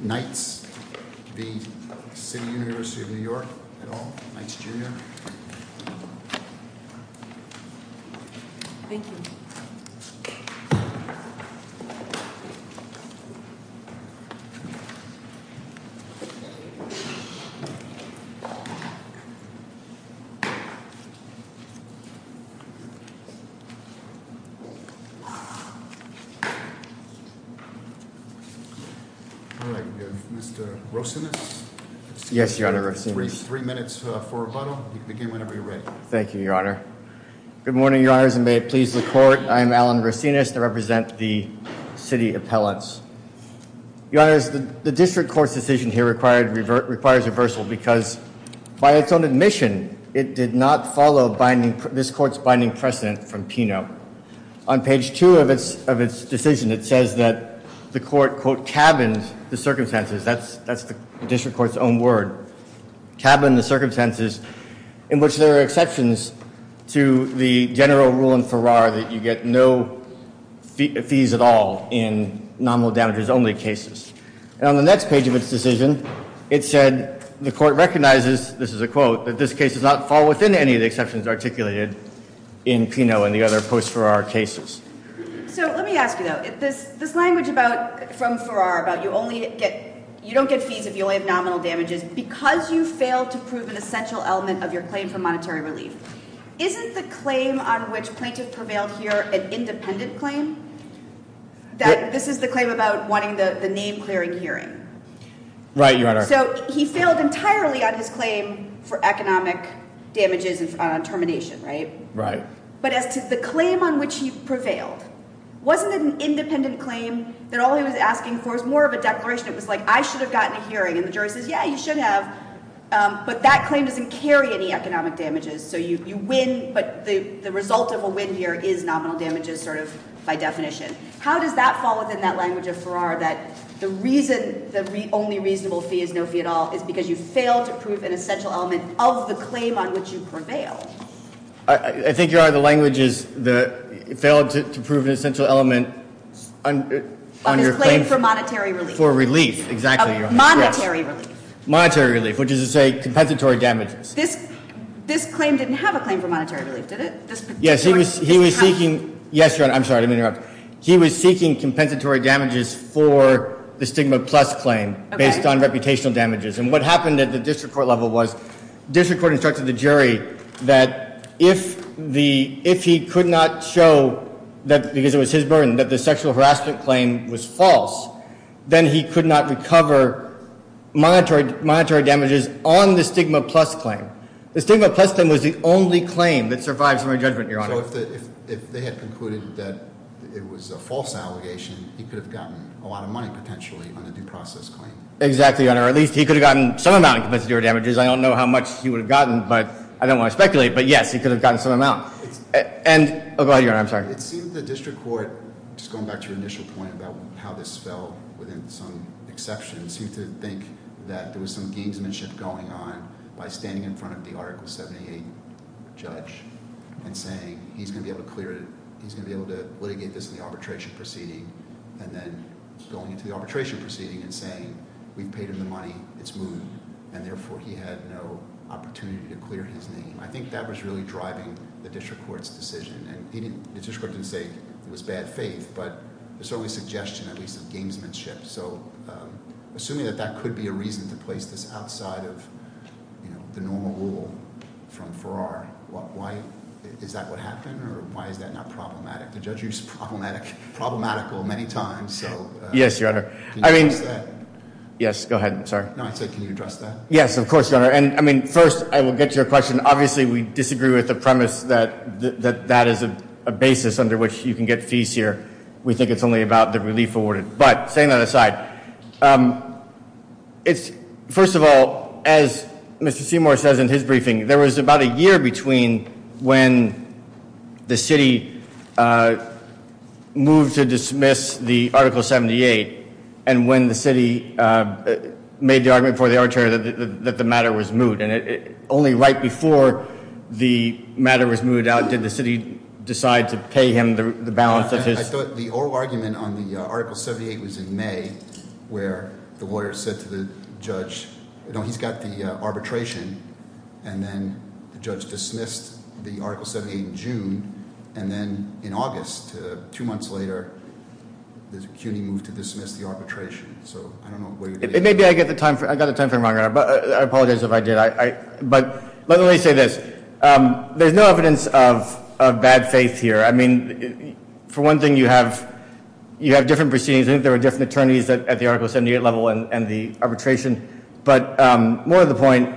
Knights v. City University of New York Mr. Rosinus. Yes, Your Honor. Three minutes for rebuttal. You can begin whenever you're ready. Thank you, Your Honor. Good morning, Your Honors, and may it please the Court. I am Alan Rosinus. I represent the City Appellants. Your Honors, the District Court's decision here requires reversal because by its own admission, it did not follow this Court's binding precedent from Peno. On page two of its decision, it says that the Court, quote, cabined the circumstances. That's the District Court's own word. Cabined the circumstances in which there are exceptions to the general rule in Farrar that you get no fees at all in nominal damages only cases. And on the next page of its decision, it said the Court recognizes, this is a quote, that this case does not fall within any of the exceptions articulated in Peno and the other post-Farrar cases. So let me ask you, though, this language about from Farrar about you only get, you don't get fees if you only have nominal damages because you failed to prove an essential element of your claim for monetary relief. Isn't the claim on which plaintiff prevailed here an independent claim? That this is the claim about wanting the name-clearing hearing? Right, Your Honor. So he failed entirely on his claim for economic damages and termination, right? Right. But as to the claim on which he prevailed, wasn't it an independent claim that all he was asking for was more of a declaration? It was like, I should have gotten a hearing. And the jury says, yeah, you should have. But that claim doesn't carry any economic damages. So you win, but the result of a win here is nominal damages, sort of by definition. How does that fall within that language of Farrar that the reason the only reasonable fee is no fee at all is because you failed to prove an essential element of the claim on which you prevailed? I think, Your Honor, the language is that you failed to prove an essential element on your claim for monetary relief. Exactly, Your Honor. Monetary relief, which is to say compensatory damages. This claim didn't have a claim for monetary relief, did it? Yes, Your Honor. I'm sorry to interrupt. He was seeking compensatory damages for the stigma plus claim based on reputational damages. And what happened at the district court level was district court instructed the jury that if he could not show, because it was his burden, that the sexual harassment claim was false, then he could not recover monetary damages on the stigma plus claim. The stigma plus claim was the only claim that survived summary judgment, Your Honor. So if they had concluded that it was a false allegation, he could have gotten a lot of money potentially on the due process claim. Exactly, Your Honor. At least he could have gotten some amount of compensatory damages. I don't know how much he would have gotten, but I don't want to speculate, but yes, he could have gotten some amount. Go ahead, Your Honor. I'm sorry. It seemed that the district court, just going back to your initial point about how this fell within some exceptions, seemed to think that there was some gamesmanship going on by standing in front of the Article 78 judge and saying he's going to be able to clear it, he's going to be able to litigate this in the arbitration proceeding, and then going into the arbitration proceeding and saying we've paid him the money, it's moved, and therefore he had no opportunity to clear his name. I think that was really driving the district court's decision, and the district court didn't say it was bad faith, but there's always suggestion at least of gamesmanship, so assuming that that could be a reason to place this outside of the normal rule from Farrar, is that what happened, or why is that not problematic? The judge used problematic many times. Yes, Your Honor. Can you address that? Yes, go ahead, I'm sorry. Can you address that? Yes, of course, Your Honor. First, I will get to your question. Obviously, we disagree with the premise that that is a basis under which you can get fees here. We think it's only about the relief awarded, but saying that aside, first of all, as Mr. Seymour says in his briefing, there was about a year between when the city moved to dismiss the Article 78 and when the city made the argument for the arbitrator that the matter was moved, and only right before the matter was moved out did the city decide to pay him the balance of his- I thought the oral argument on the Article 78 was in May, where the lawyer said to the judge, you know, he's got the the judge dismissed the Article 78 in June, and then in August, two months later, the CUNY moved to dismiss the arbitration. Maybe I got the time frame wrong, but I apologize if I did. But let me say this. There's no evidence of bad faith here. I mean, for one thing, you have different proceedings. I think there were different attorneys at the Article 78 level and the arbitration, but more to the point,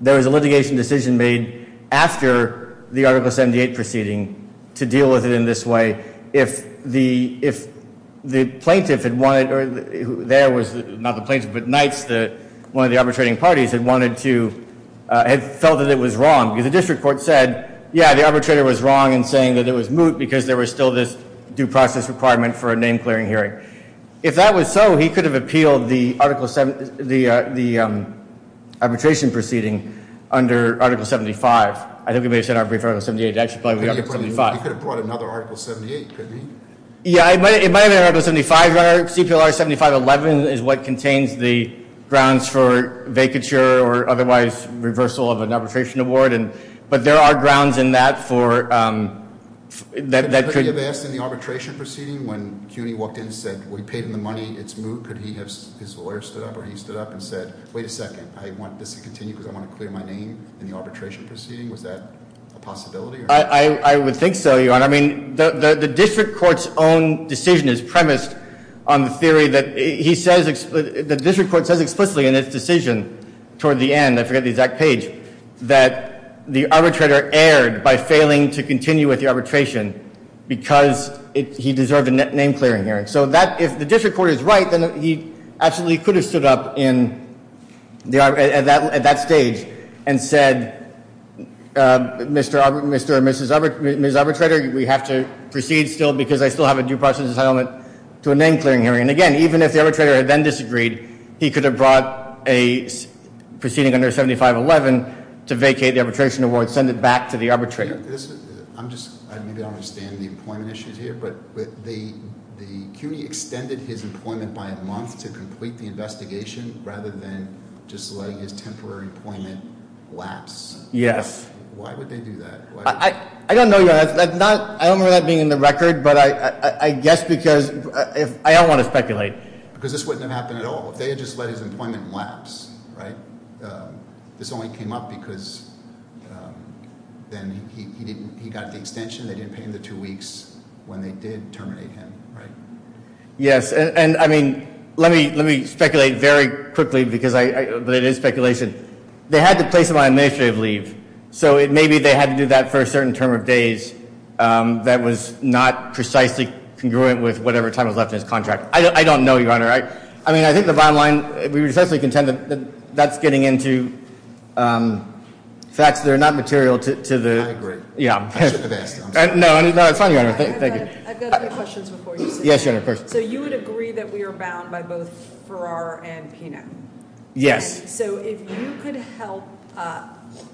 there was a litigation decision made after the Article 78 proceeding to deal with it in this way. If the plaintiff had wanted- there was- not the plaintiff, but Knights, one of the arbitrating parties, had wanted to- had felt that it was wrong. The district court said, yeah, the arbitrator was wrong in saying that it was moot because there was still this due process requirement for a name-clearing hearing. If that was so, he could have appealed the arbitration proceeding under Article 75. I think we may have said our brief on Article 78. He could have brought another Article 78, couldn't he? Yeah, it might have been Article 75. CPLR 7511 is what contains the grounds for vacature or otherwise reversal of an arbitration award, but there are grounds in that for- Could he have asked in the arbitration proceeding when CUNY walked in and said, we paid him the money, it's moot, could he have- his lawyer stood up or he stood up and said, wait a second, I want this to continue because I want to clear my name in the arbitration proceeding. Was that a possibility? I would think so, Your Honor. I mean, the district court's own decision is premised on the theory that he says- the district court says explicitly in its decision toward the end, I forget the exact page, that the arbitrator erred by failing to continue with the arbitration because he deserved a name clearing hearing. So that- if the district court is right, then he absolutely could have stood up in- at that stage and said, Mr. or Mrs. Arbitrator, we have to proceed still because I still have a due process entitlement to a name clearing hearing. And again, even if the arbitrator had then disagreed, he could have brought a proceeding under 7511 to vacate the arbitration award, send it back to the arbitrator. I'm just- maybe I don't understand the employment issues here, but the CUNY extended his employment by a month to complete the investigation rather than just let his temporary employment lapse. Yes. Why would they do that? I don't know, Your Honor. I don't remember that being in the record, but I guess because- I don't want to speculate. Because this wouldn't have happened at all. If they had just let his employment lapse, right? This only came up because then he didn't- he got the extension. They didn't pay him the two weeks when they did terminate him, right? Yes. And I mean, let me speculate very quickly because I- but it is speculation. They had to place him on administrative leave. So maybe they had to do that for a certain term of days that was not precisely congruent with whatever time was left in his contract. I don't know, Your Honor. I mean, I think the bottom line- we would essentially contend that that's getting into facts that are not material to the- I agree. No, it's fine, Your Honor. Thank you. I've got a few questions before you. Yes, Your Honor, of course. So you would agree that we are bound by both Farrar and Pena? Yes. So if you could help-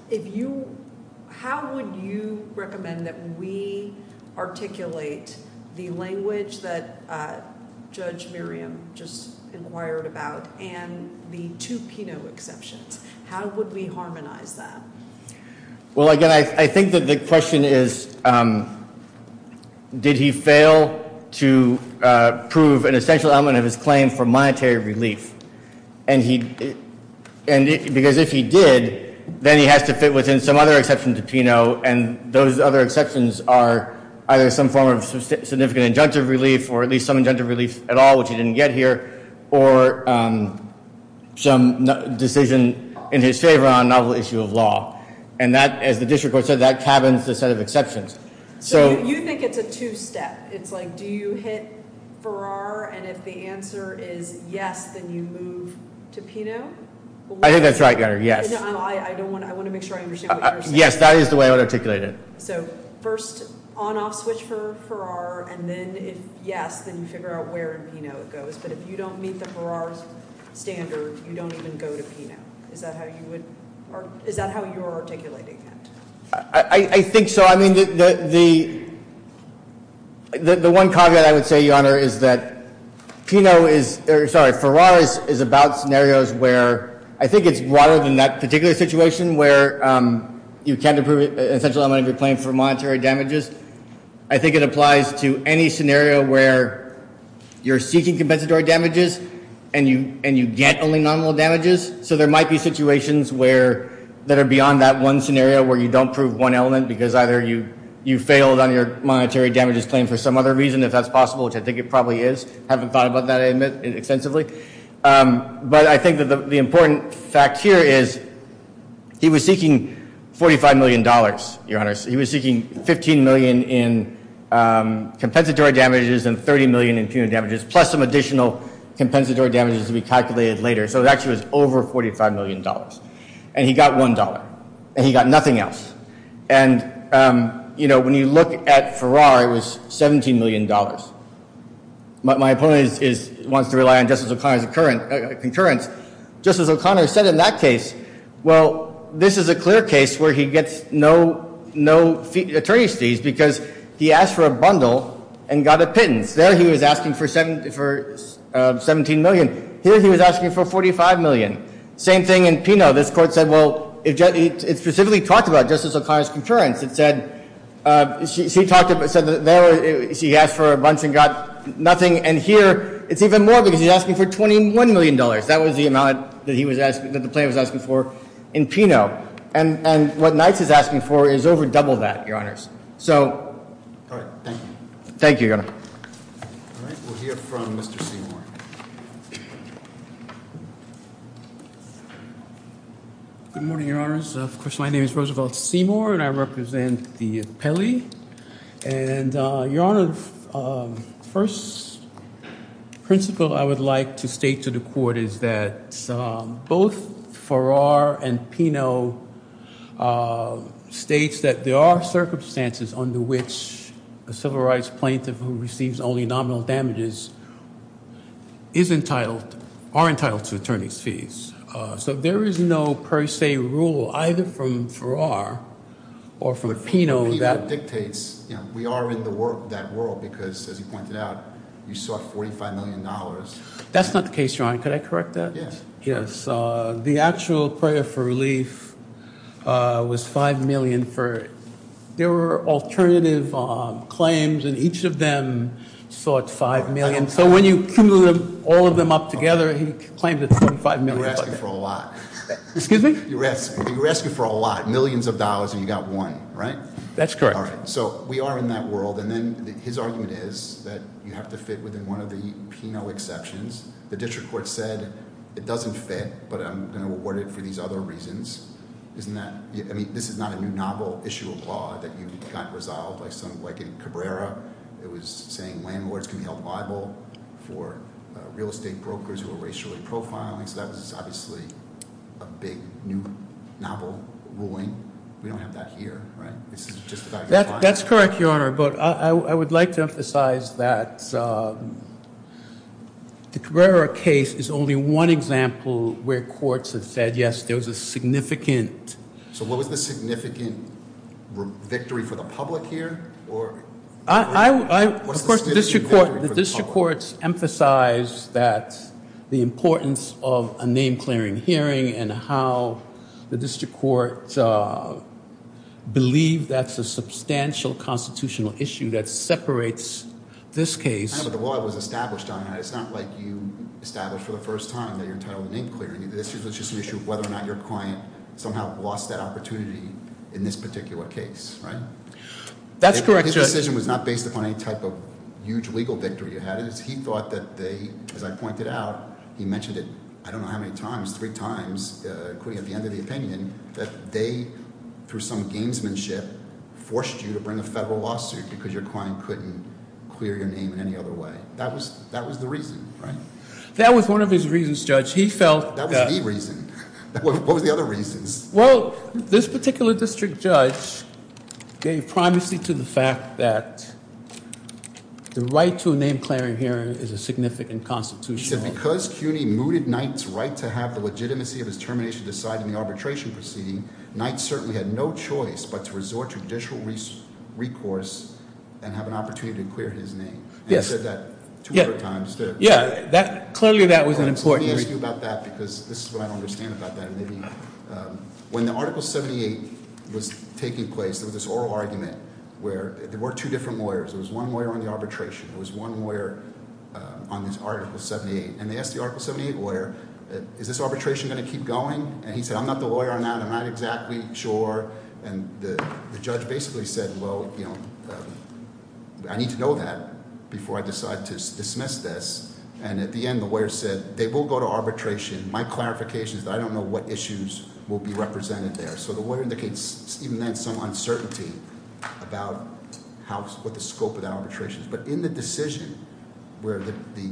if you- how would you recommend that we articulate the language that Judge Miriam just inquired about and the two Peno exceptions? How would we harmonize that? Well, again, I think that the question is did he fail to prove an essential element of his claim for monetary relief? And he- because if he did, then he has to fit within some other exception to Peno, and those other exceptions are either some form of significant injunctive relief or at least some injunctive relief at all, which he didn't get here, or some decision in his favor on a novel issue of law. And that, as the district court said, that cabins the set of exceptions. So you think it's a two-step? It's like, do you hit Farrar, and if the answer is yes, then you move to Peno? I think that's right, Your Honor, yes. No, I want to make sure I understand what you're saying. Yes, that is the way I would articulate it. So first, on-off switch for Farrar, and then if yes, then you figure out where in Peno it goes. But if you don't meet the Farrar standard, you don't even go to Peno. Is that how you would- is that how you're articulating it? I think so. I mean, the one caveat I would say, Your Honor, is that Peno is- sorry, Farrar is about scenarios where I think it's broader than that particular situation where you can't approve an essential element of your claim for monetary damages. I think it applies to any scenario where you're seeking compensatory damages and you get only nominal damages. So there might be situations where- that are beyond that one scenario where you don't prove one element because either you failed on your monetary damages claim for some other reason, if that's possible, which I think it probably is. I haven't thought about that, I admit, extensively. But I think that the important fact here is he was seeking $45 million, Your Honor. He was seeking $15 million in compensatory damages and $30 million in Peno damages plus some additional compensatory damages to be calculated later. So it actually was over $45 million. And he got $1. And he got nothing else. And, you know, when you look at Farrar, it was $17 million. My opponent wants to rely on Justice O'Connor's concurrence. Justice O'Connor said in that case, well, this is a clear case where he gets no attorney's fees because he asked for a bundle and got a pittance. There he was asking for $17 million. Here he was asking for $45 million. Same thing in Peno. This Court said, well, it specifically talked about Justice O'Connor's concurrence. It said that there he asked for a bunch and got nothing. And here it's even more because he's asking for $21 million. That was the amount that the plaintiff was asking for in Peno. And what Nights is asking for is over double that, Your Honors. So... Thank you, Your Honor. We'll hear from Mr. Seymour. Good morning, Your Honors. Of course, my name is Roosevelt Seymour and I represent the appellee. And, Your Honor, first principle I would like to state to the Court is that both Farrar and Peno states that there are circumstances under which a civil rights plaintiff who receives only nominal damages are entitled to attorney's fees. So there is no per se rule either from Farrar or from Peno that... Peno dictates we are in that world because, as you pointed out, you sought $45 million. That's not the case, Your Honor. Could I correct that? Yes. The actual prayer for relief was $5 million for... There were alternative claims and each of them sought $5 million. So when you cumulative all of them up together, he claimed it's $25 million. You're asking for a lot. Excuse me? You're asking for a lot. Millions of dollars and you got one, right? That's correct. So we are in that world and then his argument is that you have to fit within one of the Peno exceptions. The District Court said it doesn't fit but I'm going to award it for these other reasons. This is not a new novel issue of law that you got resolved like in Cabrera. It was saying landlords can be held liable for real estate brokers who are racially profiling. So that was obviously a big new novel ruling. We don't have that here, right? That's correct, Your Honor, but I would like to emphasize that the Cabrera case is only one example where courts have said, yes, there was a significant... So what was the significant victory for the public here? Of course, the District Court emphasized that the importance of a name-clearing hearing and how the District Court believed that's a substantial constitutional issue that separates this case. But the law was established on that. It's not like you established for the first time that you're entitled to name-clearing. It's just an issue of whether or not your client somehow lost that opportunity in this particular case, right? That's correct, Judge. His decision was not based upon any type of huge legal victory you had. He thought that they, as I pointed out, he mentioned it, I don't know how many times, three times, including at the end of the opinion, that they, through some gamesmanship, forced you to bring a federal lawsuit because your client couldn't clear your name in any other way. That was the reason, right? That was one of his reasons, Judge. He felt that... That was the reason. What were the other reasons? Well, this particular district judge gave primacy to the fact that the right to a name-clearing hearing is a significant constitutional... He said because CUNY mooted Knight's right to have the legitimacy of his termination decided in the arbitration proceeding, Knight certainly had no choice but to resort to judicial recourse and have an opportunity to clear his name. Yes. And he said that 200 times, too. Yeah. Clearly that was an important reason. Let me ask you about that because this is what I don't understand about that. When the Article 78 was taking place, there was this oral argument where there were two different lawyers. There was one lawyer on the arbitration. There was one lawyer on this Article 78. And they asked the Article 78 lawyer, is this arbitration going to keep going? And he said, I'm not the lawyer on that. I'm not exactly sure. And the judge basically said, well, you know, I need to know that before I decide to dismiss this. And at the end, the lawyer said, they will go to arbitration. My clarification is that I don't know what issues will be represented there. So the lawyer indicates even then some uncertainty about what the scope of that arbitration is. But in the decision where the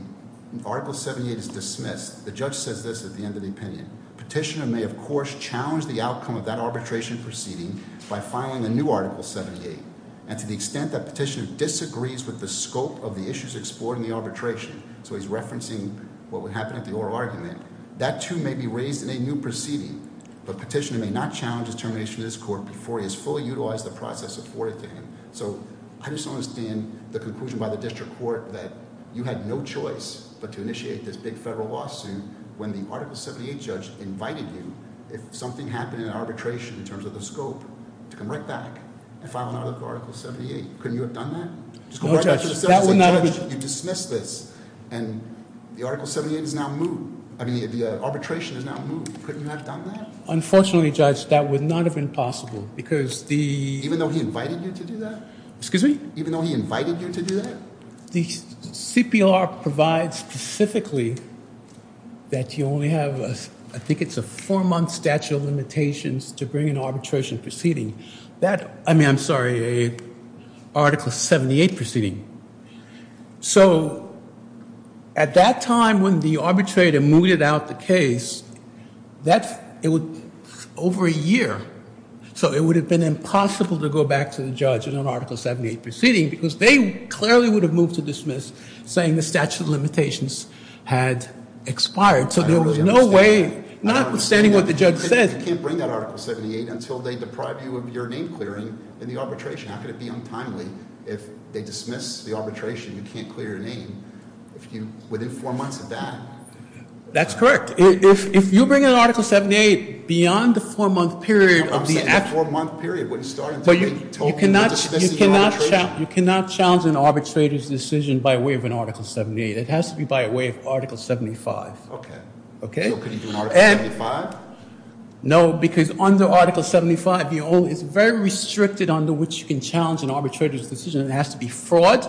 Article 78 is dismissed, the judge says this at the end of the opinion, petitioner may of course challenge the outcome of that arbitration proceeding by filing a new Article 78. And to the extent that petitioner disagrees with the scope of the issues explored in the arbitration, so he's referencing what would happen at the oral argument, that too may be raised in a new proceeding. But petitioner may not challenge his termination in this court before he has fully utilized the process afforded to him. So I just don't understand the conclusion by the district court that you had no choice but to initiate this big federal lawsuit when the Article 78 judge invited you if something happened in arbitration in terms of the scope to come right back and file another Article 78. Couldn't you have done that? No, Judge. That would not have been... You dismissed this and the Article 78 is now moved. I mean, the arbitration is now moved. Couldn't you have done that? Unfortunately, Judge, that would not have been possible because the... Even though he invited you to do that? Excuse me? Even though he invited you to do that? The CPR provides specifically that you only have, I think it's a 4-month statute of limitations to bring an arbitration proceeding. I mean, I'm sorry, an Article 78 proceeding. So at that time when the arbitrator mooted out the case, over a year. So it would have been impossible to go back to the judge in an Article 78 proceeding because they clearly would have moved to dismiss saying the statute of limitations had expired. So there was no way, notwithstanding what the judge said... You can't bring that Article 78 until they deprive you of your name clearing in the arbitration. How could it be untimely if they dismiss the arbitration and you can't clear your name within 4 months of that? That's correct. If you bring an Article 78 beyond the 4-month period... I'm saying the 4-month period wouldn't start until you told me you were dismissing the arbitration. You cannot challenge an arbitrator's decision by way of an Article 78. It has to be by way of Article 75. Okay. So could he do an Article 75? No, because under Article 75 it's very restricted under which you can challenge an arbitrator's decision. It has to be fraud,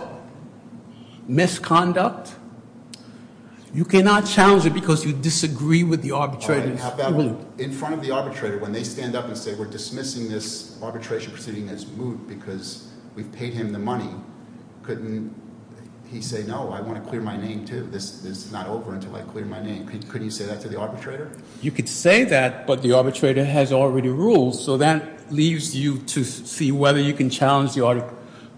misconduct. You cannot challenge it because you disagree with the arbitrator's moot. In front of the arbitrator when they stand up and say we're dismissing this arbitration proceeding that's moot because we've paid him the money, couldn't he say no, I want to clear my name too. This is not over until I clear my name. Couldn't he say that to the arbitrator? You could say that, but the arbitrator has already ruled so that leaves you to see whether you can challenge the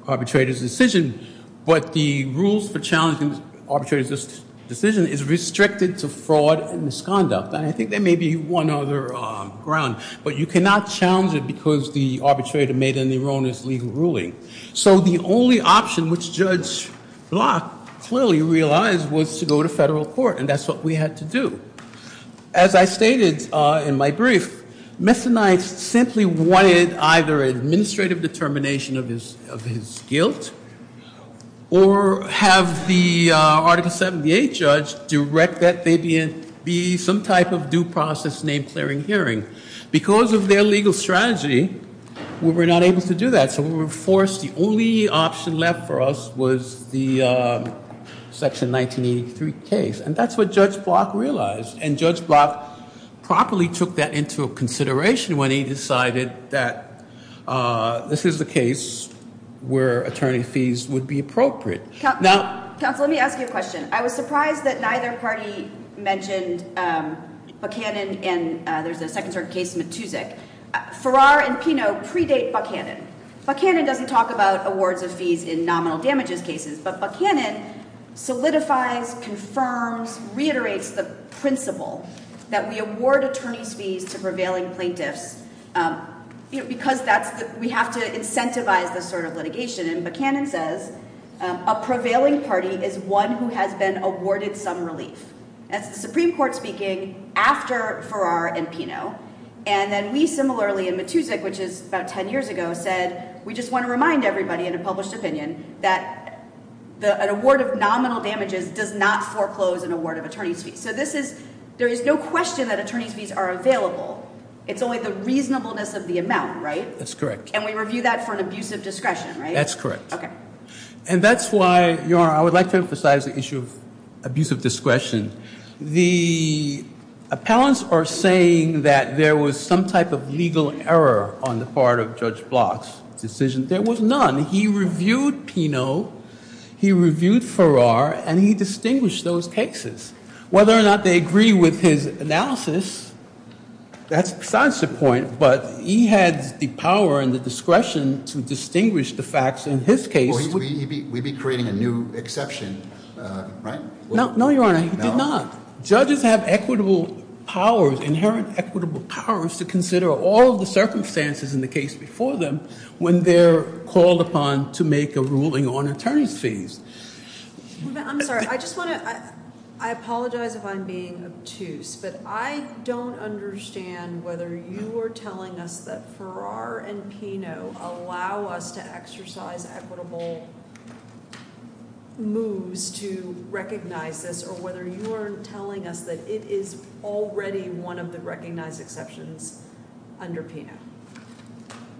arbitrator's decision. But the rules for challenging an arbitrator's decision is restricted to fraud and misconduct. And I think there may be one other ground, but you cannot challenge it because the arbitrator made an erroneous legal ruling. So the only option which Judge Block clearly realized was to go to federal court and that's what we had to do. As I stated in my brief, Messonite simply wanted either administrative determination of his guilt or have the Article 78 judge direct that there be some type of due process named clearing hearing. Because of their legal strategy we were not able to do that so we were forced the only option left for us was the Section 1983 case and that's what Judge Block realized and Judge Block properly took that into consideration when he decided that this is the case where attorney fees would be appropriate. Counsel, let me ask you a question. I was surprised that neither party mentioned Buckhannon and there's a second sort of case, Matusik. Farrar and Pinot predate Buckhannon. Buckhannon doesn't talk about awards of fees in nominal damages cases but Buckhannon solidifies, confirms, reiterates the principle that we award attorneys fees to prevailing plaintiffs because we have to incentivize this sort of litigation and Buckhannon says a prevailing party is one who has been awarded some relief. That's the Supreme Court speaking after Farrar and Pinot and then we similarly in Matusik, which is about 10 years ago, said we just want to remind everybody in a published opinion that an award of nominal damages does not foreclose an award of attorneys fees. So there is no question that attorneys fees are available. It's only the reasonableness of the amount, right? That's correct. And we review that for an abusive discretion, right? That's correct. Okay. And that's why Your Honor, I would like to emphasize the issue of abusive discretion. The appellants are saying that there was some type of legal error on the part of Judge Block's decision. There was none. He reviewed Pinot. He reviewed Farrar and he distinguished those cases. Whether or not they agree with his analysis that's besides the point, but he had the power and the discretion to distinguish the facts in his case. We'd be creating a new exception, right? No, Your Honor. He did not. Judges have equitable powers, inherent equitable powers to consider all the circumstances in the case before them when they're called upon to make a ruling on attorneys fees. I'm sorry. I just want to, I apologize if I'm being obtuse, but I don't understand whether you are telling us that Farrar and Pinot allow us to exercise equitable moves to recognize this or whether you are telling us that it is already one of the recognized exceptions under Pinot.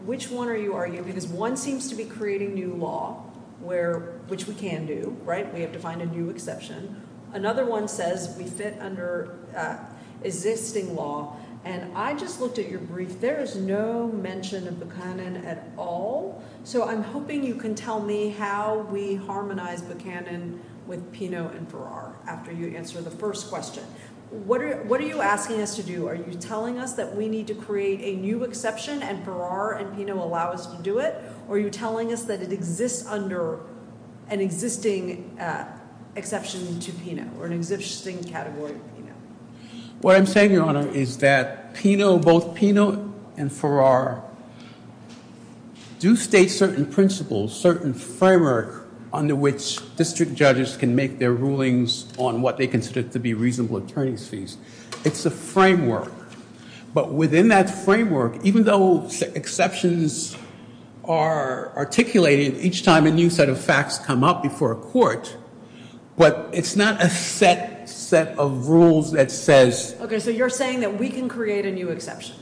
Which one are you arguing? Because one seems to be creating new law where, which we can do, right? We have to find a new exception. Another one says we fit under existing law. And I just looked at your brief. There is no mention of Buchanan at all. So I'm hoping you can tell me how we harmonize Buchanan with Pinot and Farrar after you answer the first question. What are you asking us to do? Are you telling us that we need to create a new exception and Farrar and Pinot allow us to do it? Or are you telling us that it exists under an existing exception to Pinot or an existing category of Pinot? What I'm saying, Your Honor, is that Pinot, both Pinot and Farrar do state certain principles, certain framework under which district judges can make their rulings on what they consider to be reasonable attorney's fees. It's a framework. But within that framework, even though exceptions are articulated each time a new set of facts come up before a court, but it's not a set of rules that says... Okay, so you're saying that we can create a new exception.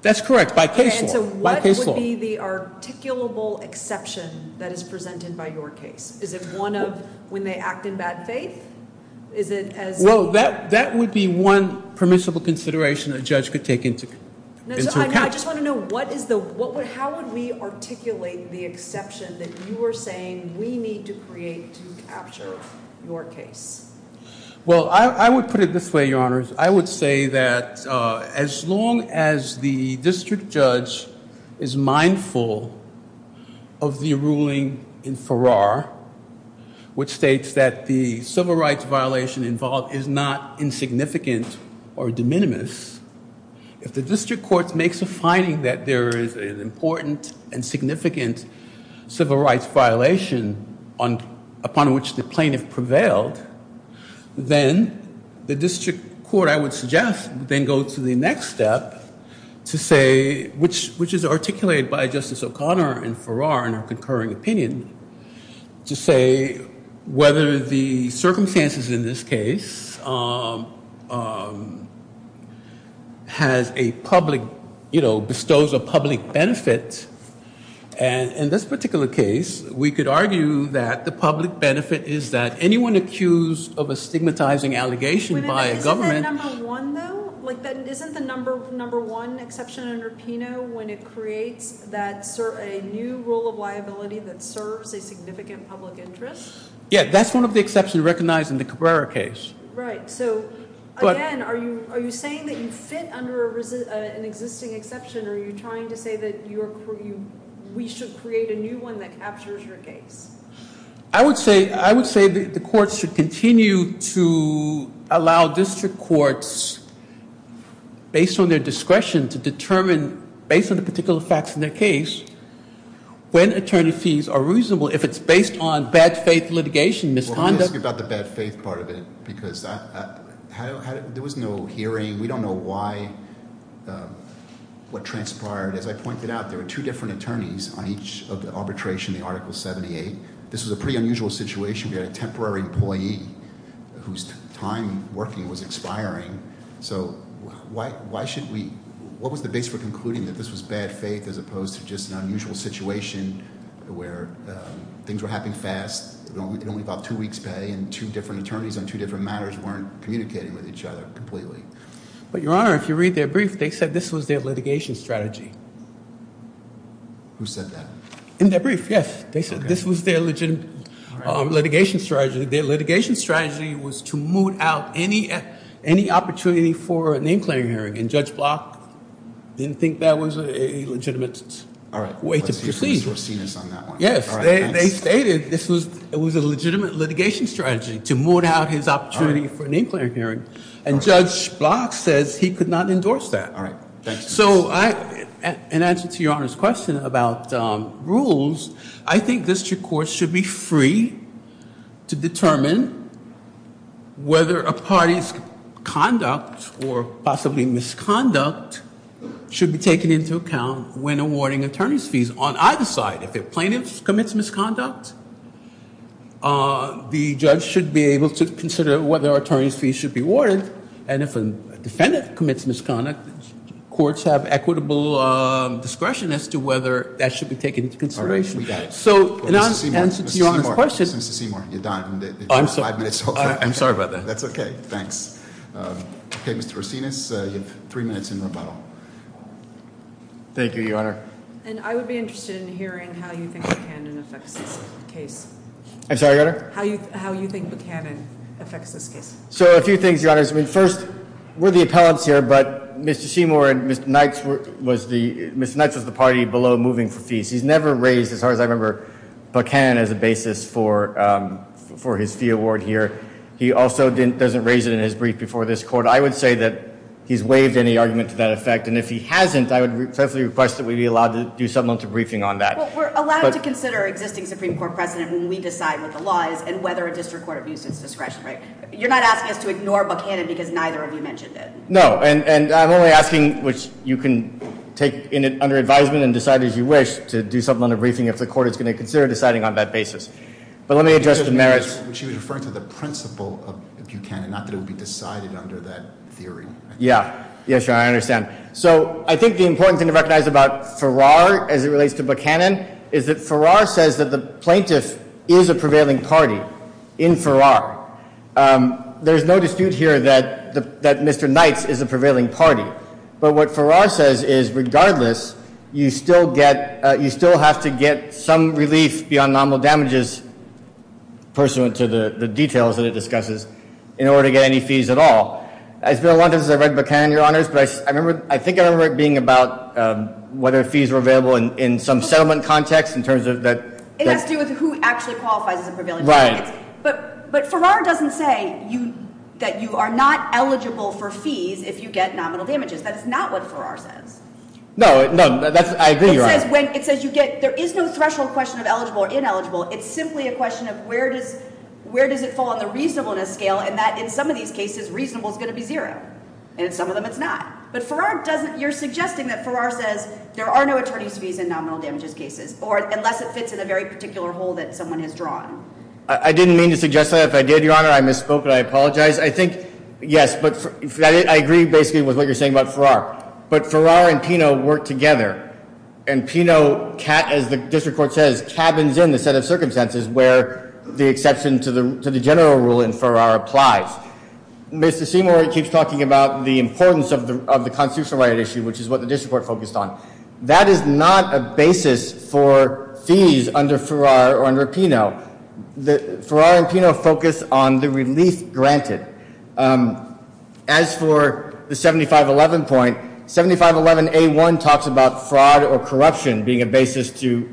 That's correct, by case law. And so what would be the articulable exception that is presented by your case? Is it one of when they act in bad faith? Is it as... Well, that would be one permissible consideration a judge could take into account. I just want to know, how would we articulate the exception that you are saying we need to create to capture your case? Well, I would put it this way, Your Honors. I would say that as long as the district judge is mindful of the ruling in Farrar, which states that the civil rights violation involved is not insignificant or de minimis, if the district court makes a finding that there is an important and significant civil rights violation upon which the plaintiff prevailed, then the district court, I would suggest, would then go to the next step to say, which is articulated by Justice O'Connor in Farrar in her concurring opinion, to say whether the circumstances in this case bestows a public benefit. And in this particular case, we could argue that the public benefit is that anyone accused of a stigmatizing allegation by a government... Isn't that number one, though? Isn't the number one exception under PINO when it creates a new rule of liability that serves a significant public interest? Yeah, that's one of the exceptions recognized in the Cabrera case. Right. So, again, are you saying that you fit under an existing exception, or are you trying to say that we should create a new one that captures your case? I would say the courts should continue to allow district courts, based on their discretion, to determine, based on the particular facts in their case, when attorney fees are reasonable, if it's based on bad faith litigation, misconduct... Well, I'm asking about the bad faith part of it, because there was no hearing. We don't know why what transpired. As I pointed out, there were two different attorneys on each of the arbitration, the Article 78. This was a pretty unusual situation. We had a temporary employee whose time working was expiring. So why should we... What was the base for concluding that this was bad faith as opposed to just an unusual situation where things were happening fast, and only about two weeks pay, and two different attorneys on two different matters weren't communicating with each other completely? But, Your Honor, if you read their brief, they said this was their litigation strategy. Who said that? In their brief, yes. They said this was their litigation strategy. Their litigation strategy was to moot out any opportunity for a name-claim hearing, and Judge Block didn't think that was a legitimate way to proceed. Yes, they stated this was a legitimate litigation strategy, to moot out his opportunity for a name-claim hearing, and Judge Block says he could not endorse that. So, in answer to Your Honor's question about rules, I think district courts should be free to determine whether a party's conduct, or possibly misconduct, should be taken into account when awarding attorney's fees. On either side, if a plaintiff commits misconduct, the judge should be able to consider whether attorney's fees should be awarded, and if a defendant commits misconduct, courts have equitable discretion as to whether that should be taken into consideration. Mr. Seymour, you're done. I'm sorry about that. That's okay, thanks. Okay, Mr. Racines, you have three minutes in rebuttal. Thank you, Your Honor. And I would be interested in hearing how you think Buchanan affects this case. I'm sorry, Your Honor? How you think Buchanan affects this case. So, a few things, Your Honor. First, we're the appellants here, but Mr. Seymour and Mr. Knights was the party below moving for fees. He's never raised, as far as I remember, Buchanan as a basis for his fee award here. He also doesn't raise it in his brief before this court. I would say that he's waived any argument to that effect, and if he hasn't, I would respectfully request that we be allowed to do something on the briefing on that. Well, we're allowed to consider existing Supreme Court precedent when we decide what the law is and whether a district court abuses discretion, right? You're not asking us to ignore Buchanan because neither of you mentioned it. No, and I'm only asking, which you can take under advisement and decide as you wish to do something on the briefing if the court is going to consider deciding on that basis. But let me address the merits. She was referring to the principle of Buchanan, not that it would be decided under that theory. Yeah. Yes, Your Honor, I understand. So, I think the important thing to recognize about Farrar as it relates to Buchanan is that Farrar says that the plaintiff is a prevailing party in Farrar. There's no dispute here that Mr. Knights is a prevailing party, but what Farrar says is, regardless, you still get some relief beyond nominal damages pursuant to the details that it discusses in order to get any fees at all. It's been a long time since I read Buchanan, Your Honors, but I think I remember it being about whether fees were available in some settlement context in terms of that... It has to do with who actually qualifies as a prevailing party. Right. But Farrar doesn't say that you are not eligible for fees if you get nominal damages. That is not what Farrar says. No, I agree, Your Honor. It says you get... There is no threshold question of eligible or ineligible. It's simply a question of where does it fall on the reasonableness scale, and that in some of these cases reasonable is going to be zero. And in some of them it's not. But Farrar doesn't... You're suggesting that Farrar says there are no attorney's fees in nominal damages cases, or unless it fits in a very particular hole that someone has drawn. I didn't mean to suggest that. If I did, Your Honor, I misspoke and I apologize. I think, yes, but I agree basically with what you're saying about Farrar. But Farrar and Pino work together. And Pino as the district court says, cabins in the set of circumstances where the exception to the general rule in Farrar applies. Mr. Seymour keeps talking about the importance of the constitutional right issue, which is what the district court focused on. That is not a basis for fees under Farrar or under Pino. Farrar and Pino focus on the relief granted. As for the 7511 point, 7511A1 talks about fraud or corruption being a basis to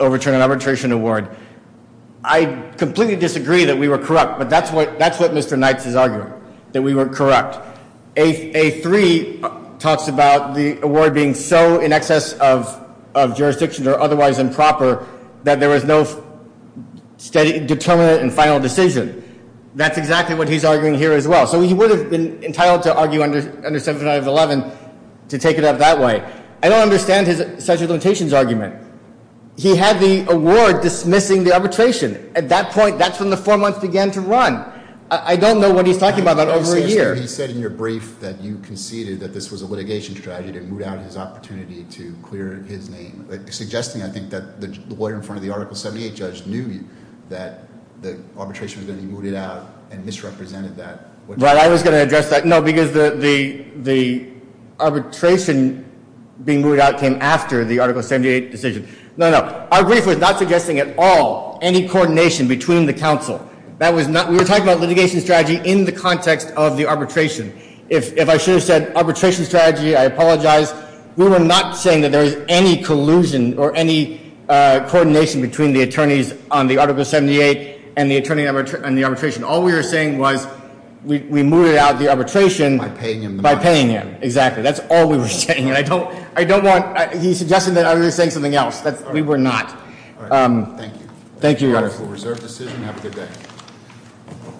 overturn an arbitration award. I completely disagree that we were corrupt, but that's what Mr. Knights is arguing, that we were corrupt. A3 talks about the award being so in excess of jurisdictions or otherwise improper that there was no steady, determinate and final decision. That's exactly what he's arguing here as well. So he would have been entitled to argue under 7511 to take it up that way. I don't understand his argument. He had the award dismissing the arbitration. At that point, that's when the four months began to run. I don't know what he's talking about over a year. He said in your brief that you conceded that this was a litigation strategy to move out his opportunity to clear his name. He's suggesting, I think, that the lawyer in front of the Article 78 judge knew that the arbitration was going to be mooted out and misrepresented that. Right, I was going to address that. No, because the arbitration being mooted out came after the Article 78 decision. No, no. Our brief was not suggesting at all any coordination between the counsel. We were talking about litigation strategy in the context of the arbitration. If I should have said arbitration strategy, I apologize. We were not saying that there was any collusion or any coordination between the attorneys on the Article 78 and the attorney on the arbitration. All we were saying was we mooted out the arbitration by paying him. Exactly. That's all we were saying. He suggested that I was saying something else. We were not. Thank you.